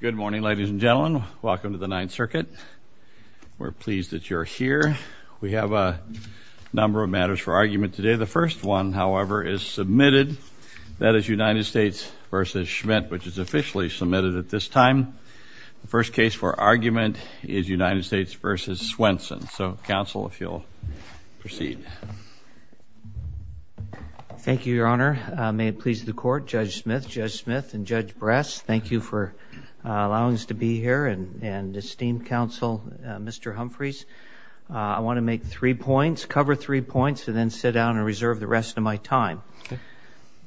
Good morning ladies and gentlemen. Welcome to the Ninth Circuit. We're pleased that you're here. We have a number of matters for argument today. The first one, however, is submitted. That is United States v. Schmitt, which is officially submitted at this time. The first case for argument is United States v. Swenson. So, counsel, if you'll proceed. Thank you, Your Honor. May it please the allowing us to be here and esteemed counsel, Mr. Humphreys. I want to make three points, cover three points, and then sit down and reserve the rest of my time.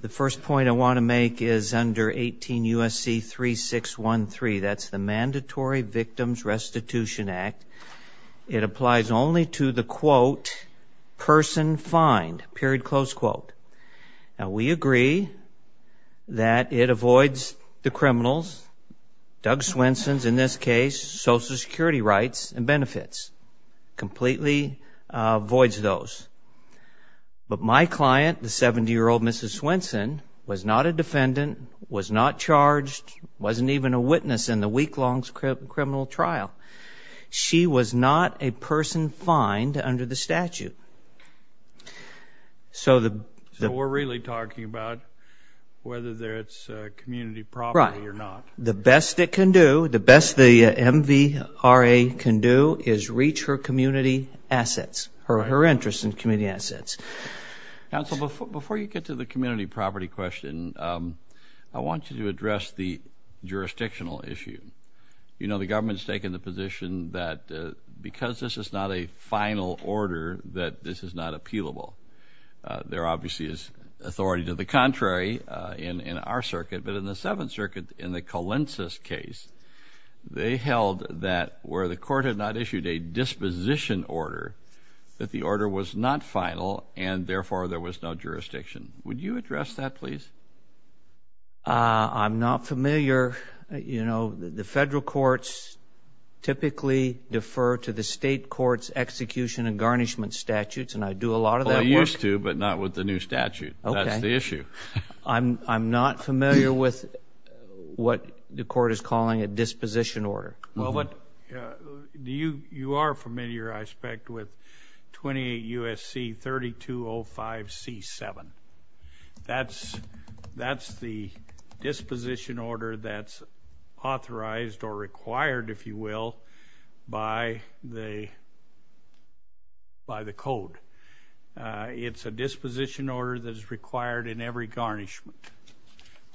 The first point I want to make is under 18 USC 3613. That's the Mandatory Victims Restitution Act. It applies only to the quote, person fined, period, close quote. Now, we agree that it avoids the criminals, Doug Swenson's, in this case, Social Security rights and benefits. Completely avoids those. But my client, the 70-year-old Mrs. Swenson, was not a defendant, was not charged, wasn't even a witness in the week-long criminal trial. She was not a person fined under the So, we're really talking about whether it's community property or not. Right. The best it can do, the best the MVRA can do, is reach her community assets, her interest in community assets. Counsel, before you get to the community property question, I want you to address the jurisdictional issue. You know, the government's taken the position that because this is not a final order, that this is not appealable. There obviously is authority to the contrary in our circuit, but in the Seventh Circuit, in the Colensis case, they held that where the court had not issued a disposition order, that the order was not final and therefore there was no jurisdiction. Would you address that, please? I'm not familiar. You know, the federal courts typically defer to the state courts execution and garnishment statutes, and I do a lot of that work. Well, you used to, but not with the new statute. Okay. That's the issue. I'm not familiar with what the court is calling a disposition order. Well, you are familiar, I expect, with 28 U.S.C. 3205 C-7. That's the disposition order that's authorized or required, if you will, by the by the code. It's a disposition order that is required in every garnishment.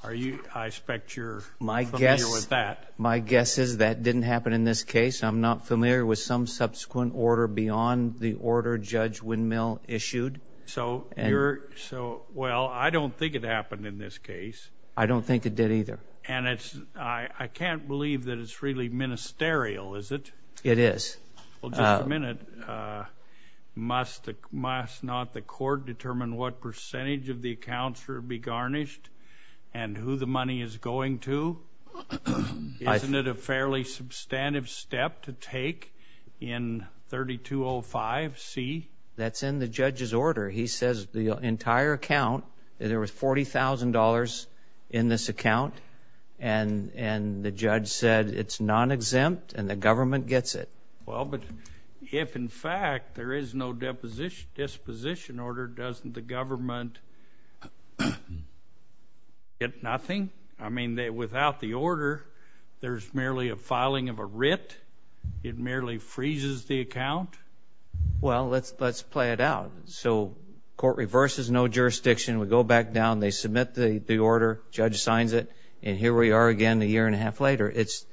Are you, I expect, you're familiar with that. My guess is that didn't happen in this case. I'm not familiar with some subsequent order beyond the order Judge Windmill issued. So you're, so, well, I don't think it happened in this case. I don't think it did either. And it's, I can't believe that it's really ministerial, is it? It is. Well, just a minute. Must not the court determine what percentage of the accounts will be garnished and who the money is going to? Isn't it a fairly substantive step to take in 3205 C? That's in the judge's order. He says the entire account, there was $40,000 in this account, and the government gets it. Well, but if in fact there is no disposition order, doesn't the government get nothing? I mean, without the order, there's merely a filing of a writ. It merely freezes the account. Well, let's play it out. So court reverses no jurisdiction. We go back down. They submit the order. Judge signs it. And here we are again a year and a half later. It's,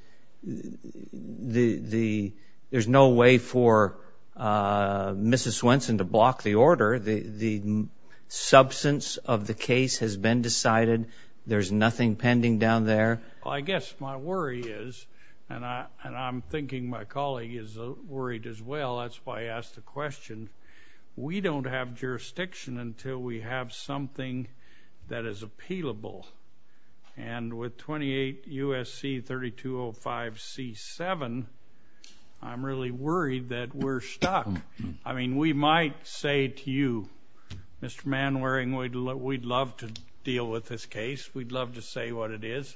the, there's no way for Mrs. Swenson to block the order. The substance of the case has been decided. There's nothing pending down there. Well, I guess my worry is, and I'm thinking my colleague is worried as well. That's why I asked the question. We don't have jurisdiction. And with 28 U.S.C. 3205 C7, I'm really worried that we're stuck. I mean, we might say to you, Mr. Manwaring, we'd love to deal with this case. We'd love to say what it is.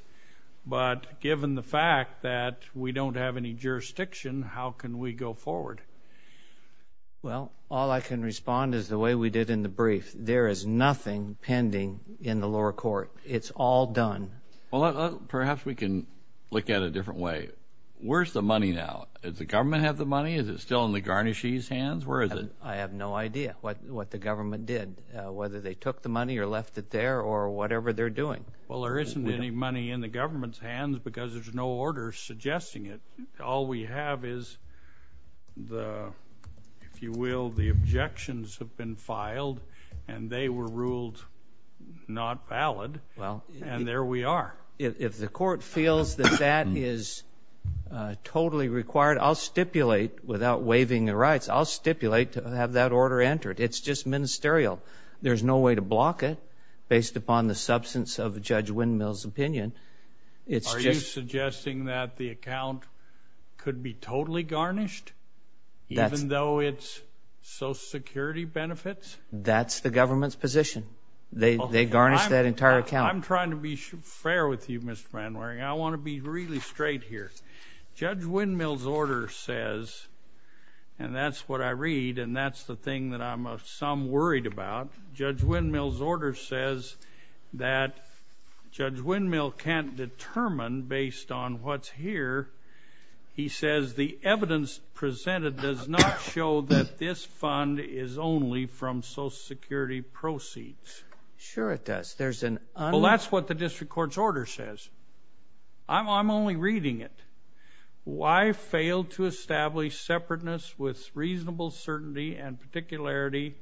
But given the fact that we don't have any jurisdiction, how can we go forward? Well, all I can respond is the way we did in the brief. There is nothing pending in the lower court. It's all done. Well, perhaps we can look at a different way. Where's the money now? Does the government have the money? Is it still in the garnishee's hands? Where is it? I have no idea what what the government did, whether they took the money or left it there or whatever they're doing. Well, there isn't any money in the government's hands because there's no order suggesting it. All we have is the, if you will, the injections have been filed and they were ruled not valid. Well, and there we are. If the court feels that that is totally required, I'll stipulate without waiving the rights. I'll stipulate to have that order entered. It's just ministerial. There's no way to block it based upon the substance of Judge Windmill's opinion. It's just suggesting that the account could be totally That's the government's position. They garnish that entire account. I'm trying to be fair with you, Mr. Manwaring. I want to be really straight here. Judge Windmill's order says, and that's what I read and that's the thing that I'm of some worried about, Judge Windmill's order says that Judge Windmill can't determine based on what's here. He says the evidence presented does not show that this fund is only from Social Security proceeds. Sure it does. There's an, well, that's what the district court's order says. I'm only reading it. Why fail to establish separateness with reasonable certainty and particularity?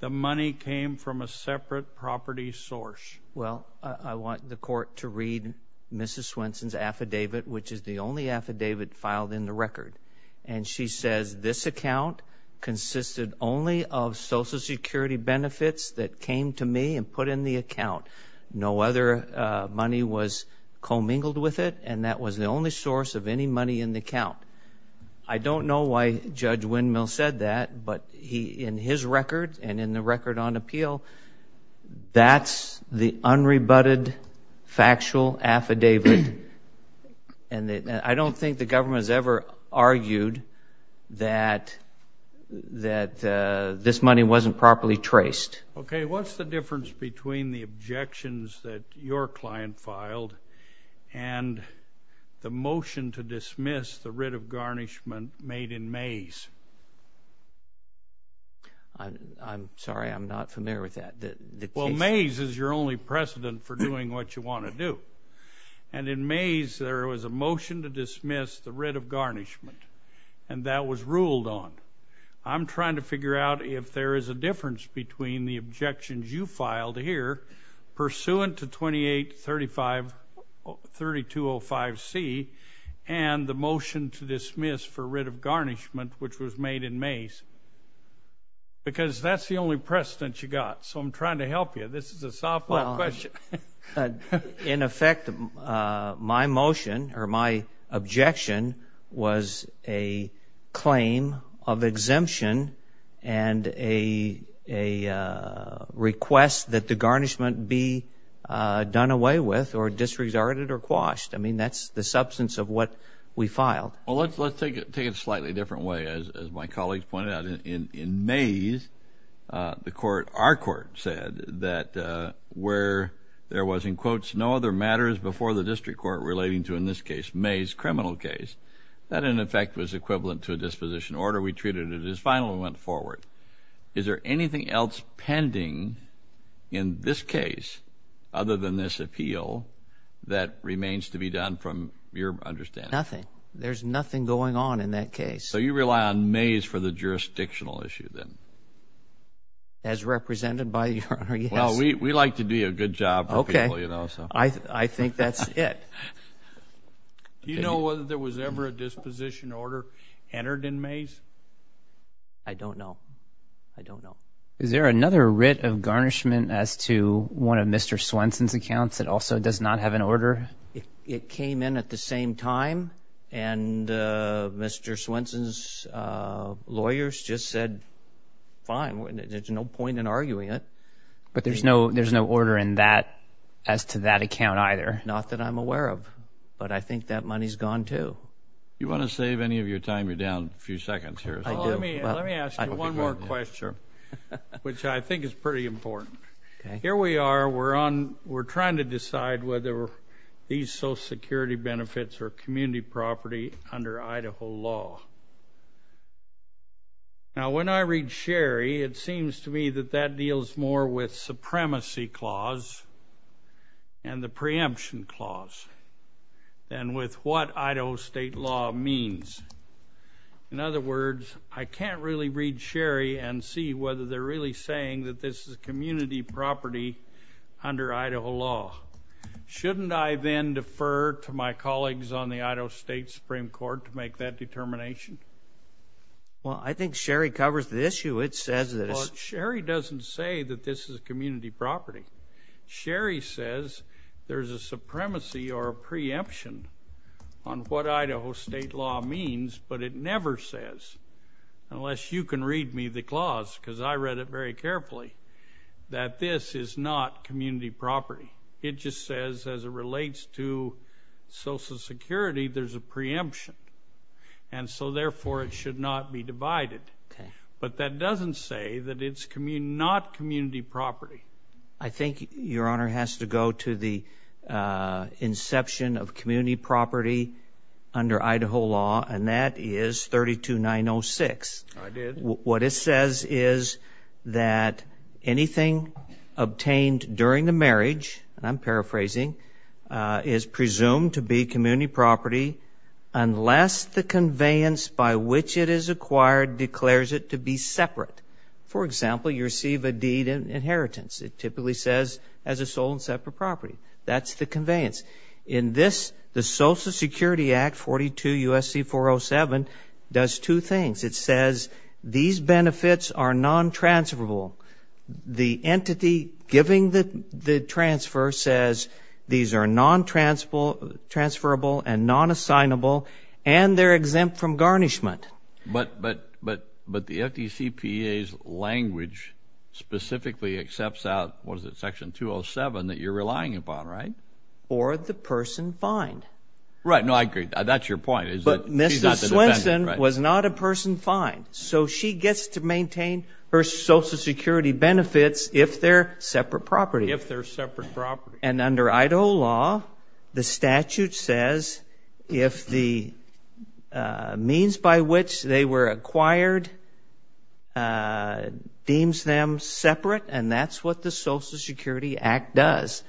The money came from a separate property source. Well, I want the court to read Mrs Swenson's affidavit, which is the only affidavit filed in the record, and she says this account consisted only of Social Security benefits that came to me and put in the account. No other money was commingled with it, and that was the only source of any money in the account. I don't know why Judge Windmill said that, but in his record and in the record on appeal, that's the unrebutted factual affidavit, and I don't think the government has ever argued that this money wasn't properly traced. Okay, what's the difference between the objections that your client filed and the motion to dismiss the writ of garnishment made in Mays? I'm sorry, I'm not familiar with that. Well, Mays is your only precedent for doing what you want to do, and in Mays there was a motion to dismiss the writ of garnishment, and that was ruled on. I'm trying to figure out if there is a difference between the objections you filed here, pursuant to 2835, 3205C, and the motion to dismiss for writ of garnishment, which was made in Mays, because that's the only precedent you got, so I'm trying to help you. This is a tough question. In effect, my motion or my objection was a claim of exemption and a request that the garnishment be done away with or disregarded or quashed. I mean, that's the substance of what we filed. Well, let's take it slightly different way. As my colleagues pointed out, in Mays, our court said that where there was, in quotes, no other matters before the district court relating to, in this case, Mays' criminal case, that in effect was equivalent to a disposition order. We treated it as final and went forward. Is there anything else pending in this case, other than this appeal, that remains to be done from your understanding? Nothing. There's nothing going on in that case. So we rely on Mays for the jurisdictional issue, then. As represented by your Honor, yes. Well, we like to do a good job. Okay. I think that's it. Do you know whether there was ever a disposition order entered in Mays? I don't know. I don't know. Is there another writ of garnishment as to one of Mr. Swenson's accounts that also does not have an order? It came in at the same time, and Mr. Swenson's lawyers just said, fine, there's no point in arguing it. But there's no order in that, as to that account, either? Not that I'm aware of, but I think that money's gone, too. You want to save any of your time? You're down a few seconds here. Let me ask you one more question, which I think is pretty important. Here we are, we're trying to decide whether these are Idaho security benefits or community property under Idaho law. Now, when I read Sherry, it seems to me that that deals more with supremacy clause and the preemption clause than with what Idaho state law means. In other words, I can't really read Sherry and see whether they're really saying that this is a to my colleagues on the Idaho State Supreme Court to make that determination. Well, I think Sherry covers the issue. It says that Sherry doesn't say that this is a community property. Sherry says there's a supremacy or a preemption on what Idaho state law means, but it never says unless you can read me the clause, because I read it very carefully, that this is not community property. It just says, as it relates to Social Security, there's a preemption, and so, therefore, it should not be divided. But that doesn't say that it's not community property. I think your honor has to go to the inception of community property under Idaho law, and that is 32 906. What it says is that anything obtained during the marriage, and I'm paraphrasing, is presumed to be community property unless the conveyance by which it is acquired declares it to be separate. For example, you receive a deed in inheritance. It typically says as a sole and separate property. That's the conveyance. In this, the Social Security Act 42 USC 407 does two things. It says these benefits are non transferable. The entity giving the transfer says these are non transferable and non assignable, and they're exempt from garnishment. But the FTCPA's language specifically accepts out what is it? Section 207 that you're relying upon, right? Or the person fined. Right. No, I agree. That's your point. But Mrs. Swenson was not a person fined, so she gets to maintain her Social Security benefits if they're separate property. If they're separate property. And under Idaho law, the statute says if the means by which they were acquired deems them separate, and that's what the Social Security Act does.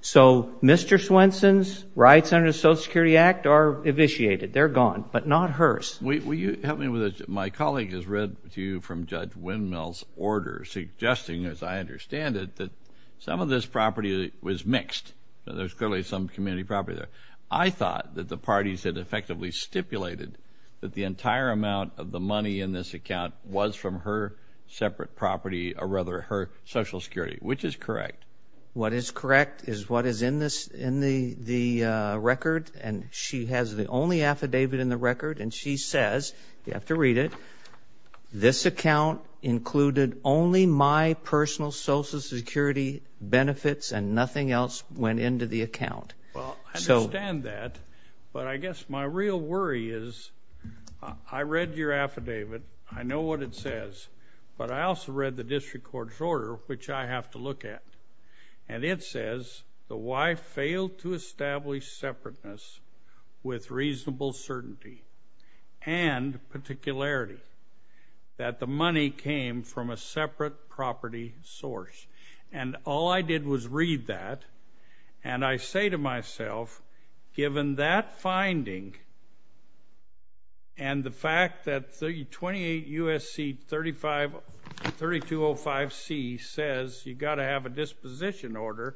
So Mr. Swenson's rights under the Social Security Act are evisciated. They're gone, but not hers. Will you help me with this? My colleague has read to you from Judge Windmill's order suggesting, as I understand it, that some of this property was mixed. There's clearly some community property there. I thought that the parties had effectively stipulated that the entire amount of the money in this account was from her separate property, or rather her Social Security, which is correct. What is correct is what is in the record, and she has the only affidavit in the record, and she says, you have to read it, this account included only my personal Social Security benefits and nothing else went into the account. Well, I understand that, but I guess my real worry is I read your affidavit. I know what it says, but I also read the District Court's order, which I have to look at, and it says the wife failed to establish separateness with reasonable certainty and particularity, that the money came from a separate property source, and all I did was read that, and I say to myself, given that you've got to have a disposition order,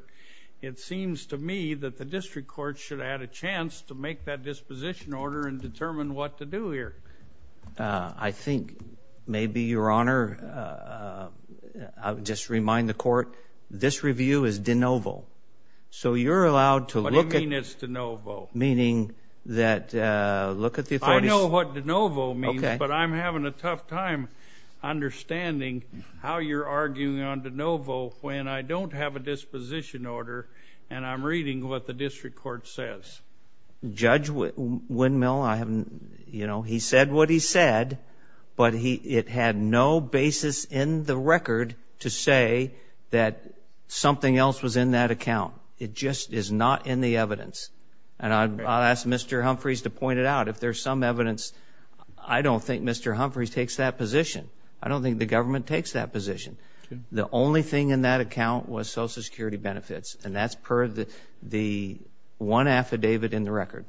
it seems to me that the District Court should have had a chance to make that disposition order and determine what to do here. I think maybe, Your Honor, I would just remind the Court, this review is de novo, so you're allowed to look at... What do you mean it's de novo? Meaning that... I know what de novo means, but I'm having a tough time understanding how you're arguing on de novo when I don't have a disposition order and I'm reading what the District Court says. Judge Windmill, he said what he said, but it had no basis in the record to say that something else was in that account. It just is not in the evidence, and I'll ask Mr. Humphreys to point it out. If there's some evidence, I don't think Mr. Humphreys takes that position. I don't think the government takes that position. The only thing in that account was Social Security benefits, and that's per the one affidavit in the record.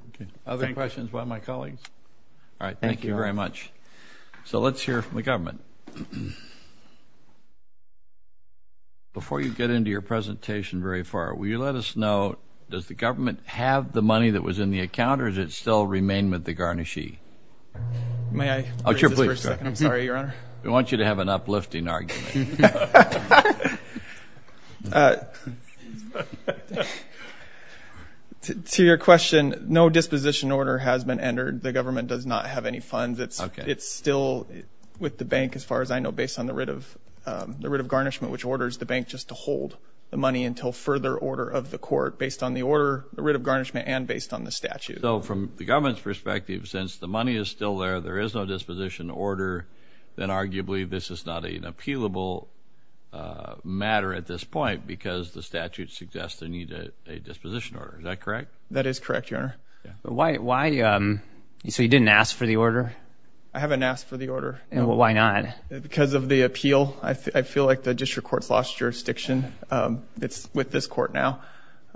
Other questions by my colleagues? All right. Thank you very much. So let's hear from the government. Before you get into your presentation very far, will you let us know, does the government have the money that was in the account, or does it still remain with the garnishee? May I? Sure, please. I'm sorry, Your Honor. We want you to have an uplifting argument. To your question, no disposition order has been entered. The government does not have any funds. It's still with the bank, as far as I know, based on the writ of garnishment, which orders the bank just to hold the money until further order of the court, based on the order, the writ of garnishment, and based on the statute. So from the government's perspective, since the money is still there, there is no disposition order, then arguably this is not an appealable matter at this point, because the statute suggests they need a disposition order. Is that correct? That is correct, Your Honor. So you didn't ask for the order? I haven't asked for the order. Why not? Because of the appeal. I feel like the district court's lost jurisdiction. It's with this court now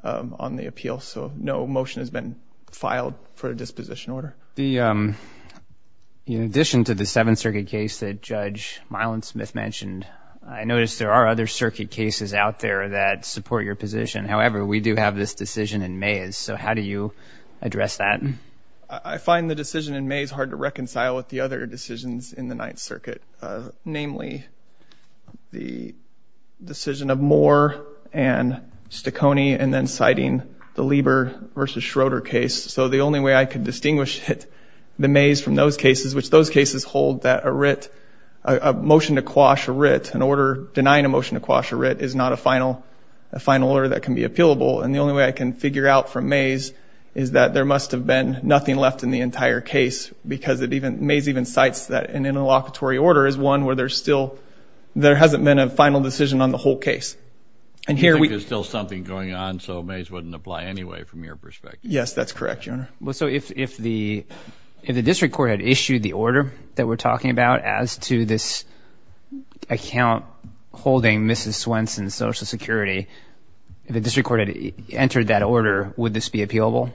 on the appeal. So no motion has been filed for a disposition order. In addition to the Seventh Circuit case that Judge Miland-Smith mentioned, I noticed there are other circuit cases out there that support your position. However, we do have this decision in May. So how do you address that? I find the decision in May is hard to reconcile with the other decisions in the Ninth Circuit, namely the decision of Moore and Stacconi, and then citing the Lieber v. Schroeder case. So the only way I can distinguish it, the Mays from those cases, which those cases hold that a writ, a motion to quash a writ, an order denying a motion to quash a writ, is not a final order that can be appealable. And the only way I can figure out from Mays is that there must have been nothing left in the entire case, because Mays even cites that an interlocutory order is one where there hasn't been a final decision on the whole case. And you think there's still something going on, so Mays wouldn't apply anyway from your perspective. Yes, that's correct, Your Honor. So if the district court had issued the order that we're talking about as to this account holding Mrs. Swenson's Social Security, if the district court had entered that order, would this be appealable?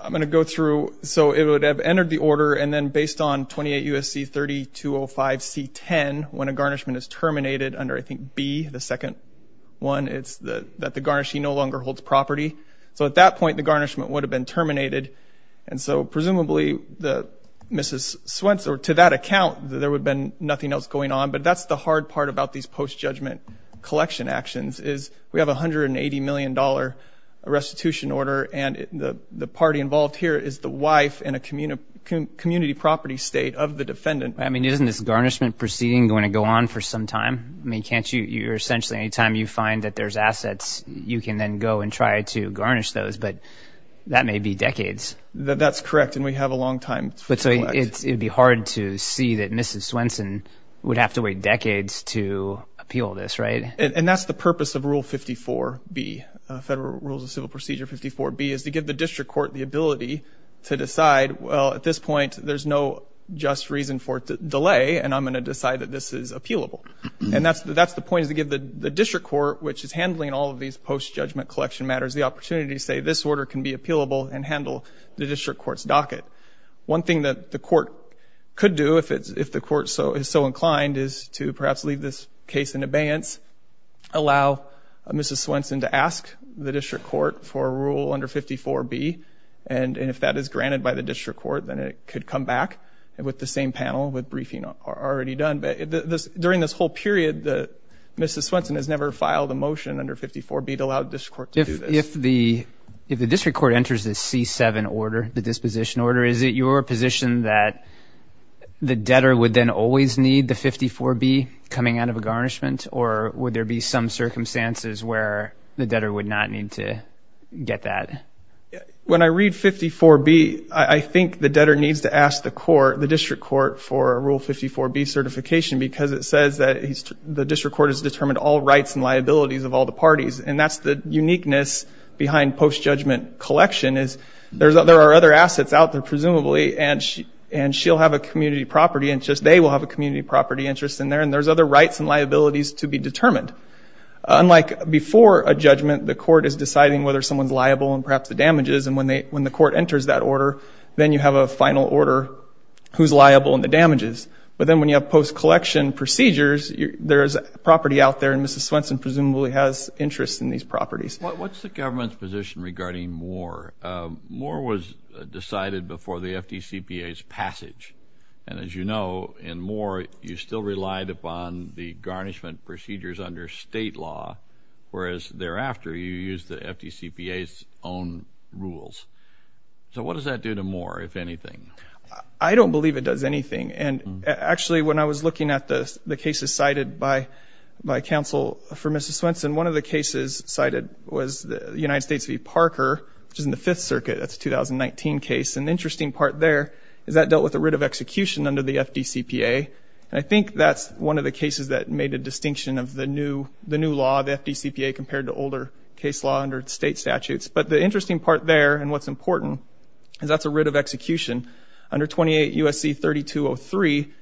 I'm going to go through. So it would have entered the order, and then based on 28 U.S.C. 3205 C-10, when a garnishment is terminated under, I think, B, the second one, it's that the garnishee no longer holds property. So at that point, the garnishment would have been terminated. And so presumably, Mrs. Swenson, to that account, there would have been nothing else going on. But that's the hard part about these post-judgment collection actions, is we have $180 million restitution order, and the party involved here is the wife in a community property state of the defendant. I mean, isn't this garnishment proceeding going to go on for some time? I mean, can't you, you're essentially, anytime you find that there's assets, you can then go and try to garnish those. But that may be decades. That's correct, and we have a long time to collect. But so it would be hard to see that Mrs. Swenson would have to wait decades to appeal this, right? And that's the purpose of Rule 54B, Federal Rules of Civil Procedure 54B, is to give the district court the ability to decide, well, at this point, there's no just reason for delay, and I'm going to decide that this is appealable. And that's the point, is to give the district court, which is handling all of these post-judgment collection matters, the opportunity to say, this order can be appealable and handle the district court's docket. One thing that the court could do, if the court is so inclined, is to perhaps leave this case in abeyance, allow Mrs. Swenson to ask the district court for a rule under 54B, and if that is granted by the district court, then it could come back with the same panel, with briefing already done. But during this whole period, Mrs. Swenson has never filed a motion under 54B to allow the district court to do this. If the district court enters this C7 order, the disposition order, is it your position that the debtor would then always need the 54B coming out of a garnishment, or would there be some circumstances where the debtor would not need to get that? When I read 54B, I think the debtor needs to ask the court, the district court, for a Rule 54B certification, because it says that the district court has determined all rights and liabilities of all the parties. And that's the uniqueness behind post-judgment collection, is there are other assets out there, presumably, and she'll have a community property interest, they will have a community property interest in there, and there's other rights and liabilities to be determined. Unlike before a judgment, the court is deciding whether someone's liable, and perhaps the damages, and when the court enters that order, then you have a final order, who's liable and the damages. But then when you have post-collection procedures, there's property out there, and Mrs. Swenson presumably has interest in these properties. What's the government's position regarding Moore? Moore was decided before the FDCPA's passage. And as you know, in Moore, you still relied upon the garnishment procedures under state law, whereas thereafter, you used the FDCPA's own rules. So what does that do to Moore, if anything? I don't believe it does anything. And actually, when I was looking at the cases cited by counsel for Mrs. Swenson, one of the cases cited was the United States v. Parker, which is in the Fifth Circuit. That's a 2019 case. And the interesting part there is that dealt with a writ of execution under the FDCPA. And I think that's one of the cases that made a distinction of the new law, the FDCPA, compared to older case law under state statutes. But the interesting part there, and what's important, is that's a writ of execution. Under 28 U.S.C. 3203,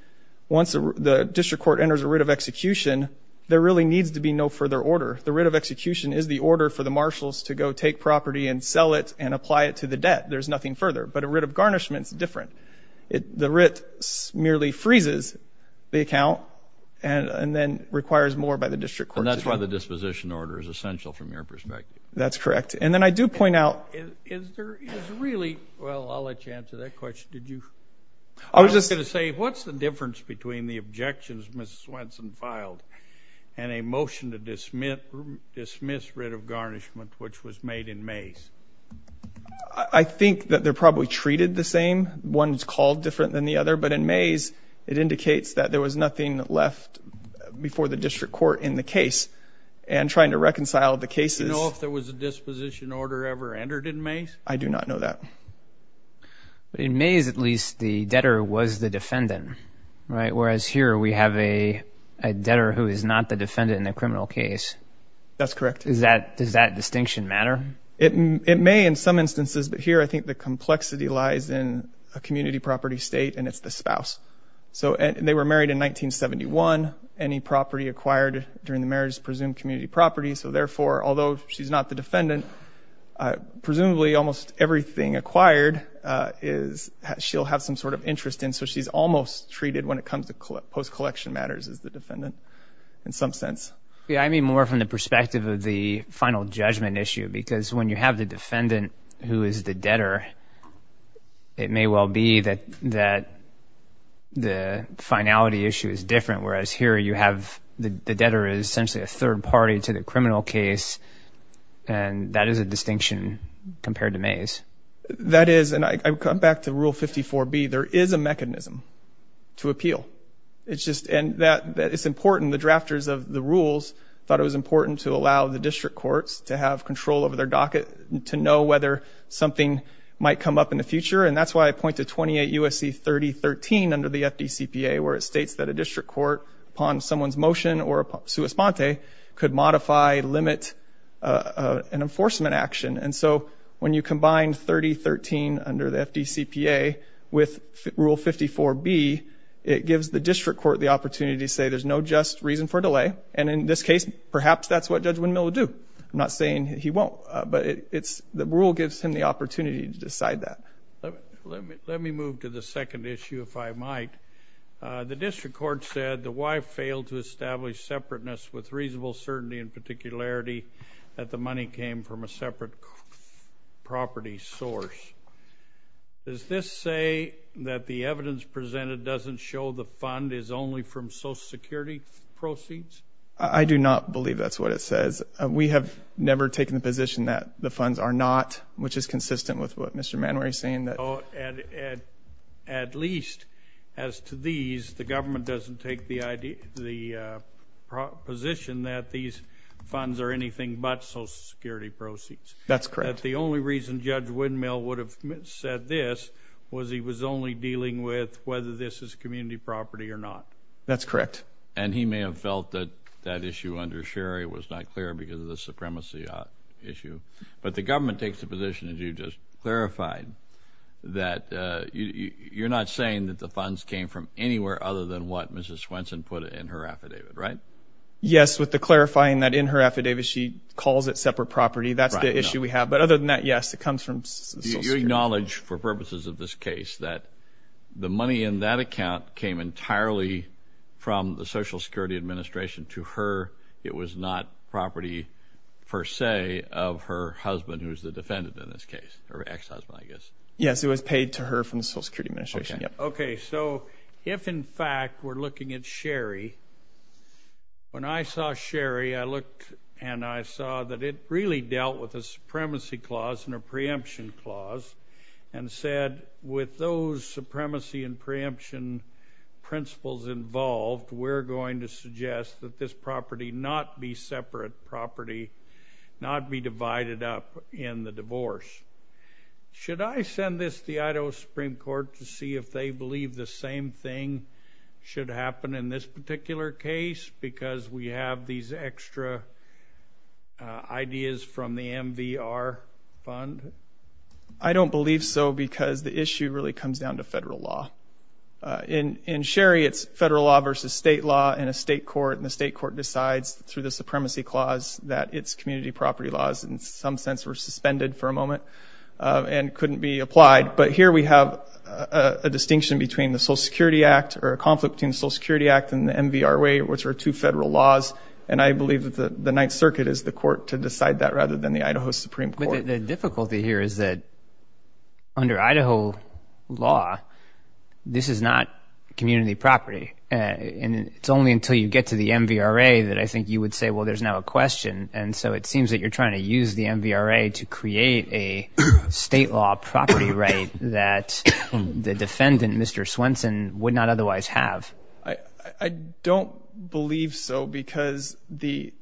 once the district court enters a writ of execution, there really needs to be no further order. The writ of execution is the order for the marshals to go take property and sell it and apply it to the debt. There's nothing further. But a writ of garnishment is different. The writ merely freezes the account and then requires more by the district court. And that's why the disposition order is essential, from your perspective. That's correct. And then I do point out... Is there really... Well, I'll let you answer that question. Did you... I was just going to say, what's the difference between the objections Mrs. Swenson filed and a motion to dismiss writ of garnishment, which was made in Mays? I think that they're probably treated the same. One's called different than the other. But in Mays, it indicates that there was nothing left before the district court in the case. And trying to reconcile the cases... Do you know if there was a disposition order ever entered in Mays? I do not know that. But in Mays, at least, the debtor was the defendant, right? The debtor who is not the defendant in the criminal case. That's correct. Does that distinction matter? It may in some instances. But here, I think the complexity lies in a community property state, and it's the spouse. So they were married in 1971. Any property acquired during the marriage is presumed community property. So therefore, although she's not the defendant, presumably almost everything acquired is... She'll have some sort of interest in. So she's almost treated, when it comes to post-collection matters, as the defendant in some sense. Yeah, I mean more from the perspective of the final judgment issue. Because when you have the defendant who is the debtor, it may well be that the finality issue is different. Whereas here, you have the debtor is essentially a third party to the criminal case. And that is a distinction compared to Mays. That is. And I come back to Rule 54B. There is a mechanism to appeal. And it's important. The drafters of the rules thought it was important to allow the district courts to have control over their docket, to know whether something might come up in the future. And that's why I point to 28 U.S.C. 3013 under the FDCPA, where it states that a district court, upon someone's motion or a sua sponte, could modify, limit an enforcement action. And so when you combine 3013 under the FDCPA with Rule 54B, it gives the district court the opportunity to say there's no just reason for delay. And in this case, perhaps that's what Judge Windmill will do. I'm not saying he won't. But the rule gives him the opportunity to decide that. Let me move to the second issue, if I might. The district court said the wife failed to establish separateness with reasonable certainty and particularity that the money came from a separate property source. Does this say that the evidence presented doesn't show the fund is only from Social Security proceeds? I do not believe that's what it says. We have never taken the position that the funds are not, which is consistent with what Mr. Manwery is saying. At least, as to these, the government doesn't take the position that these funds are anything but Social Security proceeds. That's correct. That the only reason Judge Windmill would have said this was he was only dealing with whether this is community property or not. That's correct. And he may have felt that that issue under Sherry was not clear because of the supremacy issue. But the government takes the position, as you just clarified, that you're not saying that the funds came from anywhere other than what Mrs. Swenson put in her affidavit, right? Yes, with the clarifying that in her affidavit she calls it separate property. That's the issue we have. But other than that, yes, it comes from Social Security. You acknowledge, for purposes of this case, that the money in that account came entirely from the Social Security Administration to her. It was not property, per se, of her husband, who is the defendant in this case, or ex-husband, I guess. Yes, it was paid to her from the Social Security Administration. Okay, so if, in fact, we're looking at Sherry, when I saw Sherry, I looked and I saw that it really dealt with a supremacy clause and a preemption clause and said, with those supremacy and preemption principles involved, we're going to suggest that this property not be separate property, not be divided up in the divorce. Should I send this to the Idaho Supreme Court to see if they believe the same thing should happen in this particular case because we have these extra ideas from the MVR fund? I don't believe so because the issue really comes down to federal law. In Sherry, it's federal law versus state law in a state court, and the state court decides through the supremacy clause that its community property laws, in some sense, were suspended for a moment and couldn't be applied. But here we have a distinction between the Social Security Act or a conflict between the Social Security Act and the MVR way, which are two federal laws, and I believe that the Ninth Circuit is the court to decide that rather than the Idaho Supreme Court. But the difficulty here is that under Idaho law, this is not community property. And it's only until you get to the MVRA that I think you would say, well, there's now a question. And so it seems that you're trying to use the MVRA to create a state law property right that the defendant, Mr. Swenson, would not otherwise have. I don't believe so because the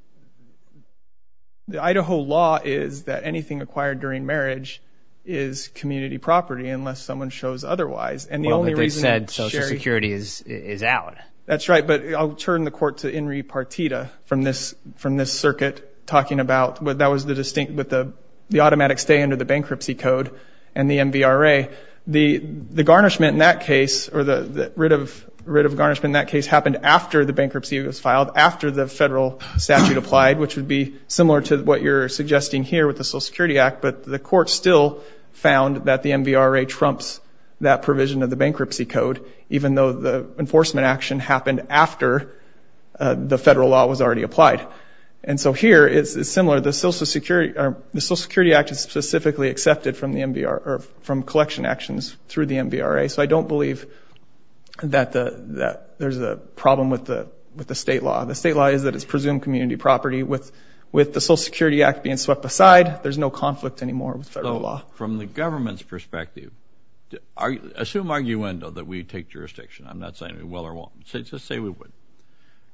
Idaho law is that anything acquired during marriage is community property unless someone shows otherwise. Well, but they said Social Security is out. That's right. But I'll turn the court to Inri Partita from this circuit talking about that was the distinct with the automatic stay under the bankruptcy code and the MVRA. The garnishment in that case or the writ of garnishment in that case happened after the bankruptcy was filed, after the federal statute applied, which would be similar to what you're suggesting here with the Social Security Act. But the court still found that the MVRA trumps that provision of the bankruptcy code, even though the enforcement action happened after the federal law was already applied. And so here, it's similar. The Social Security Act is specifically accepted from the MVRA or from collection actions through the MVRA. So I don't believe that there's a problem with the state law. The state law is that it's presumed community property. With the Social Security Act being swept aside, there's no conflict anymore with federal law. From the government's perspective, assume arguendo that we take jurisdiction. I'm not saying we will or won't. Just say we would.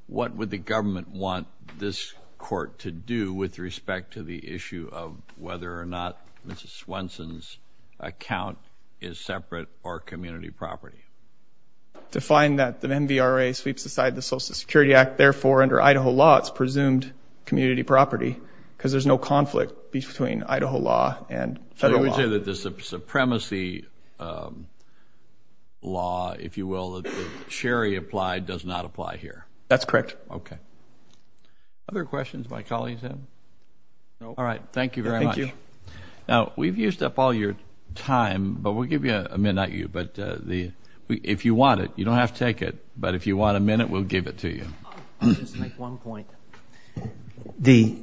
What would the government want this court to do with respect to the issue of whether or not Mrs. Swenson's account is separate or community property? To find that the MVRA sweeps aside the Social Security Act. Therefore, under Idaho law, it's presumed community property because there's no conflict between Idaho law and federal law. I would say that the supremacy law, if you will, that Sherry applied does not apply here. That's correct. Okay. Other questions my colleagues have? No. All right. Thank you very much. Thank you. Now, we've used up all your time, but we'll give you a minute. Not you, but if you want it, you don't have to take it. But if you want a minute, we'll give it to you. I'll just make one point. The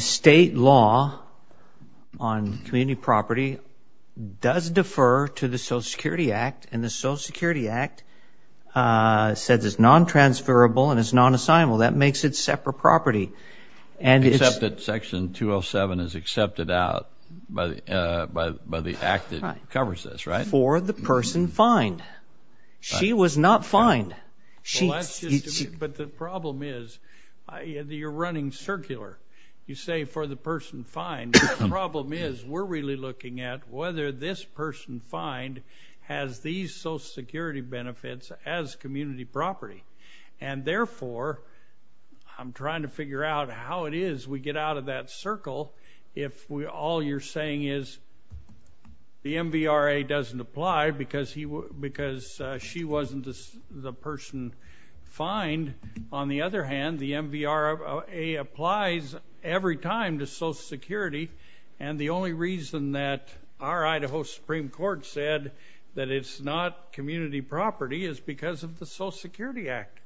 state law on community property does defer to the Social Security Act, and the Social Security Act says it's non-transferable and it's non-assignable. That makes it separate property. Except that Section 207 is accepted out by the act that covers this, right? For the person fined. She was not fined. But the problem is you're running circular. You say for the person fined. The problem is we're really looking at whether this person fined has these Social Security benefits as community property. And therefore, I'm trying to figure out how it is we get out of that circle if all you're saying is the MVRA doesn't apply because she wasn't the person fined. On the other hand, the MVRA applies every time to Social Security, and the only reason that our Idaho Supreme Court said that it's not community property is because of the Social Security Act.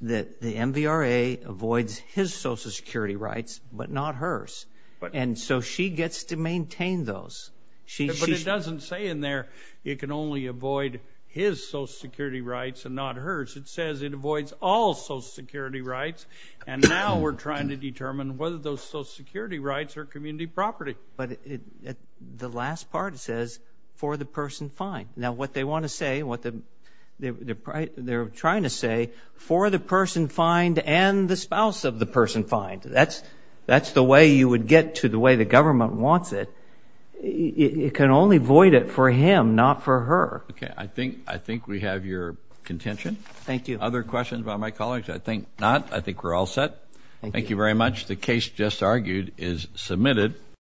The MVRA avoids his Social Security rights, but not hers. And so she gets to maintain those. But it doesn't say in there it can only avoid his Social Security rights and not hers. It says it avoids all Social Security rights, and now we're trying to determine whether those Social Security rights are community property. But the last part says for the person fined. Now, what they want to say, what they're trying to say, for the person fined and the spouse of the person fined. That's the way you would get to the way the government wants it. It can only avoid it for him, not for her. Okay, I think we have your contention. Thank you. Other questions by my colleagues? I think not. I think we're all set. Thank you very much. The case just argued is submitted.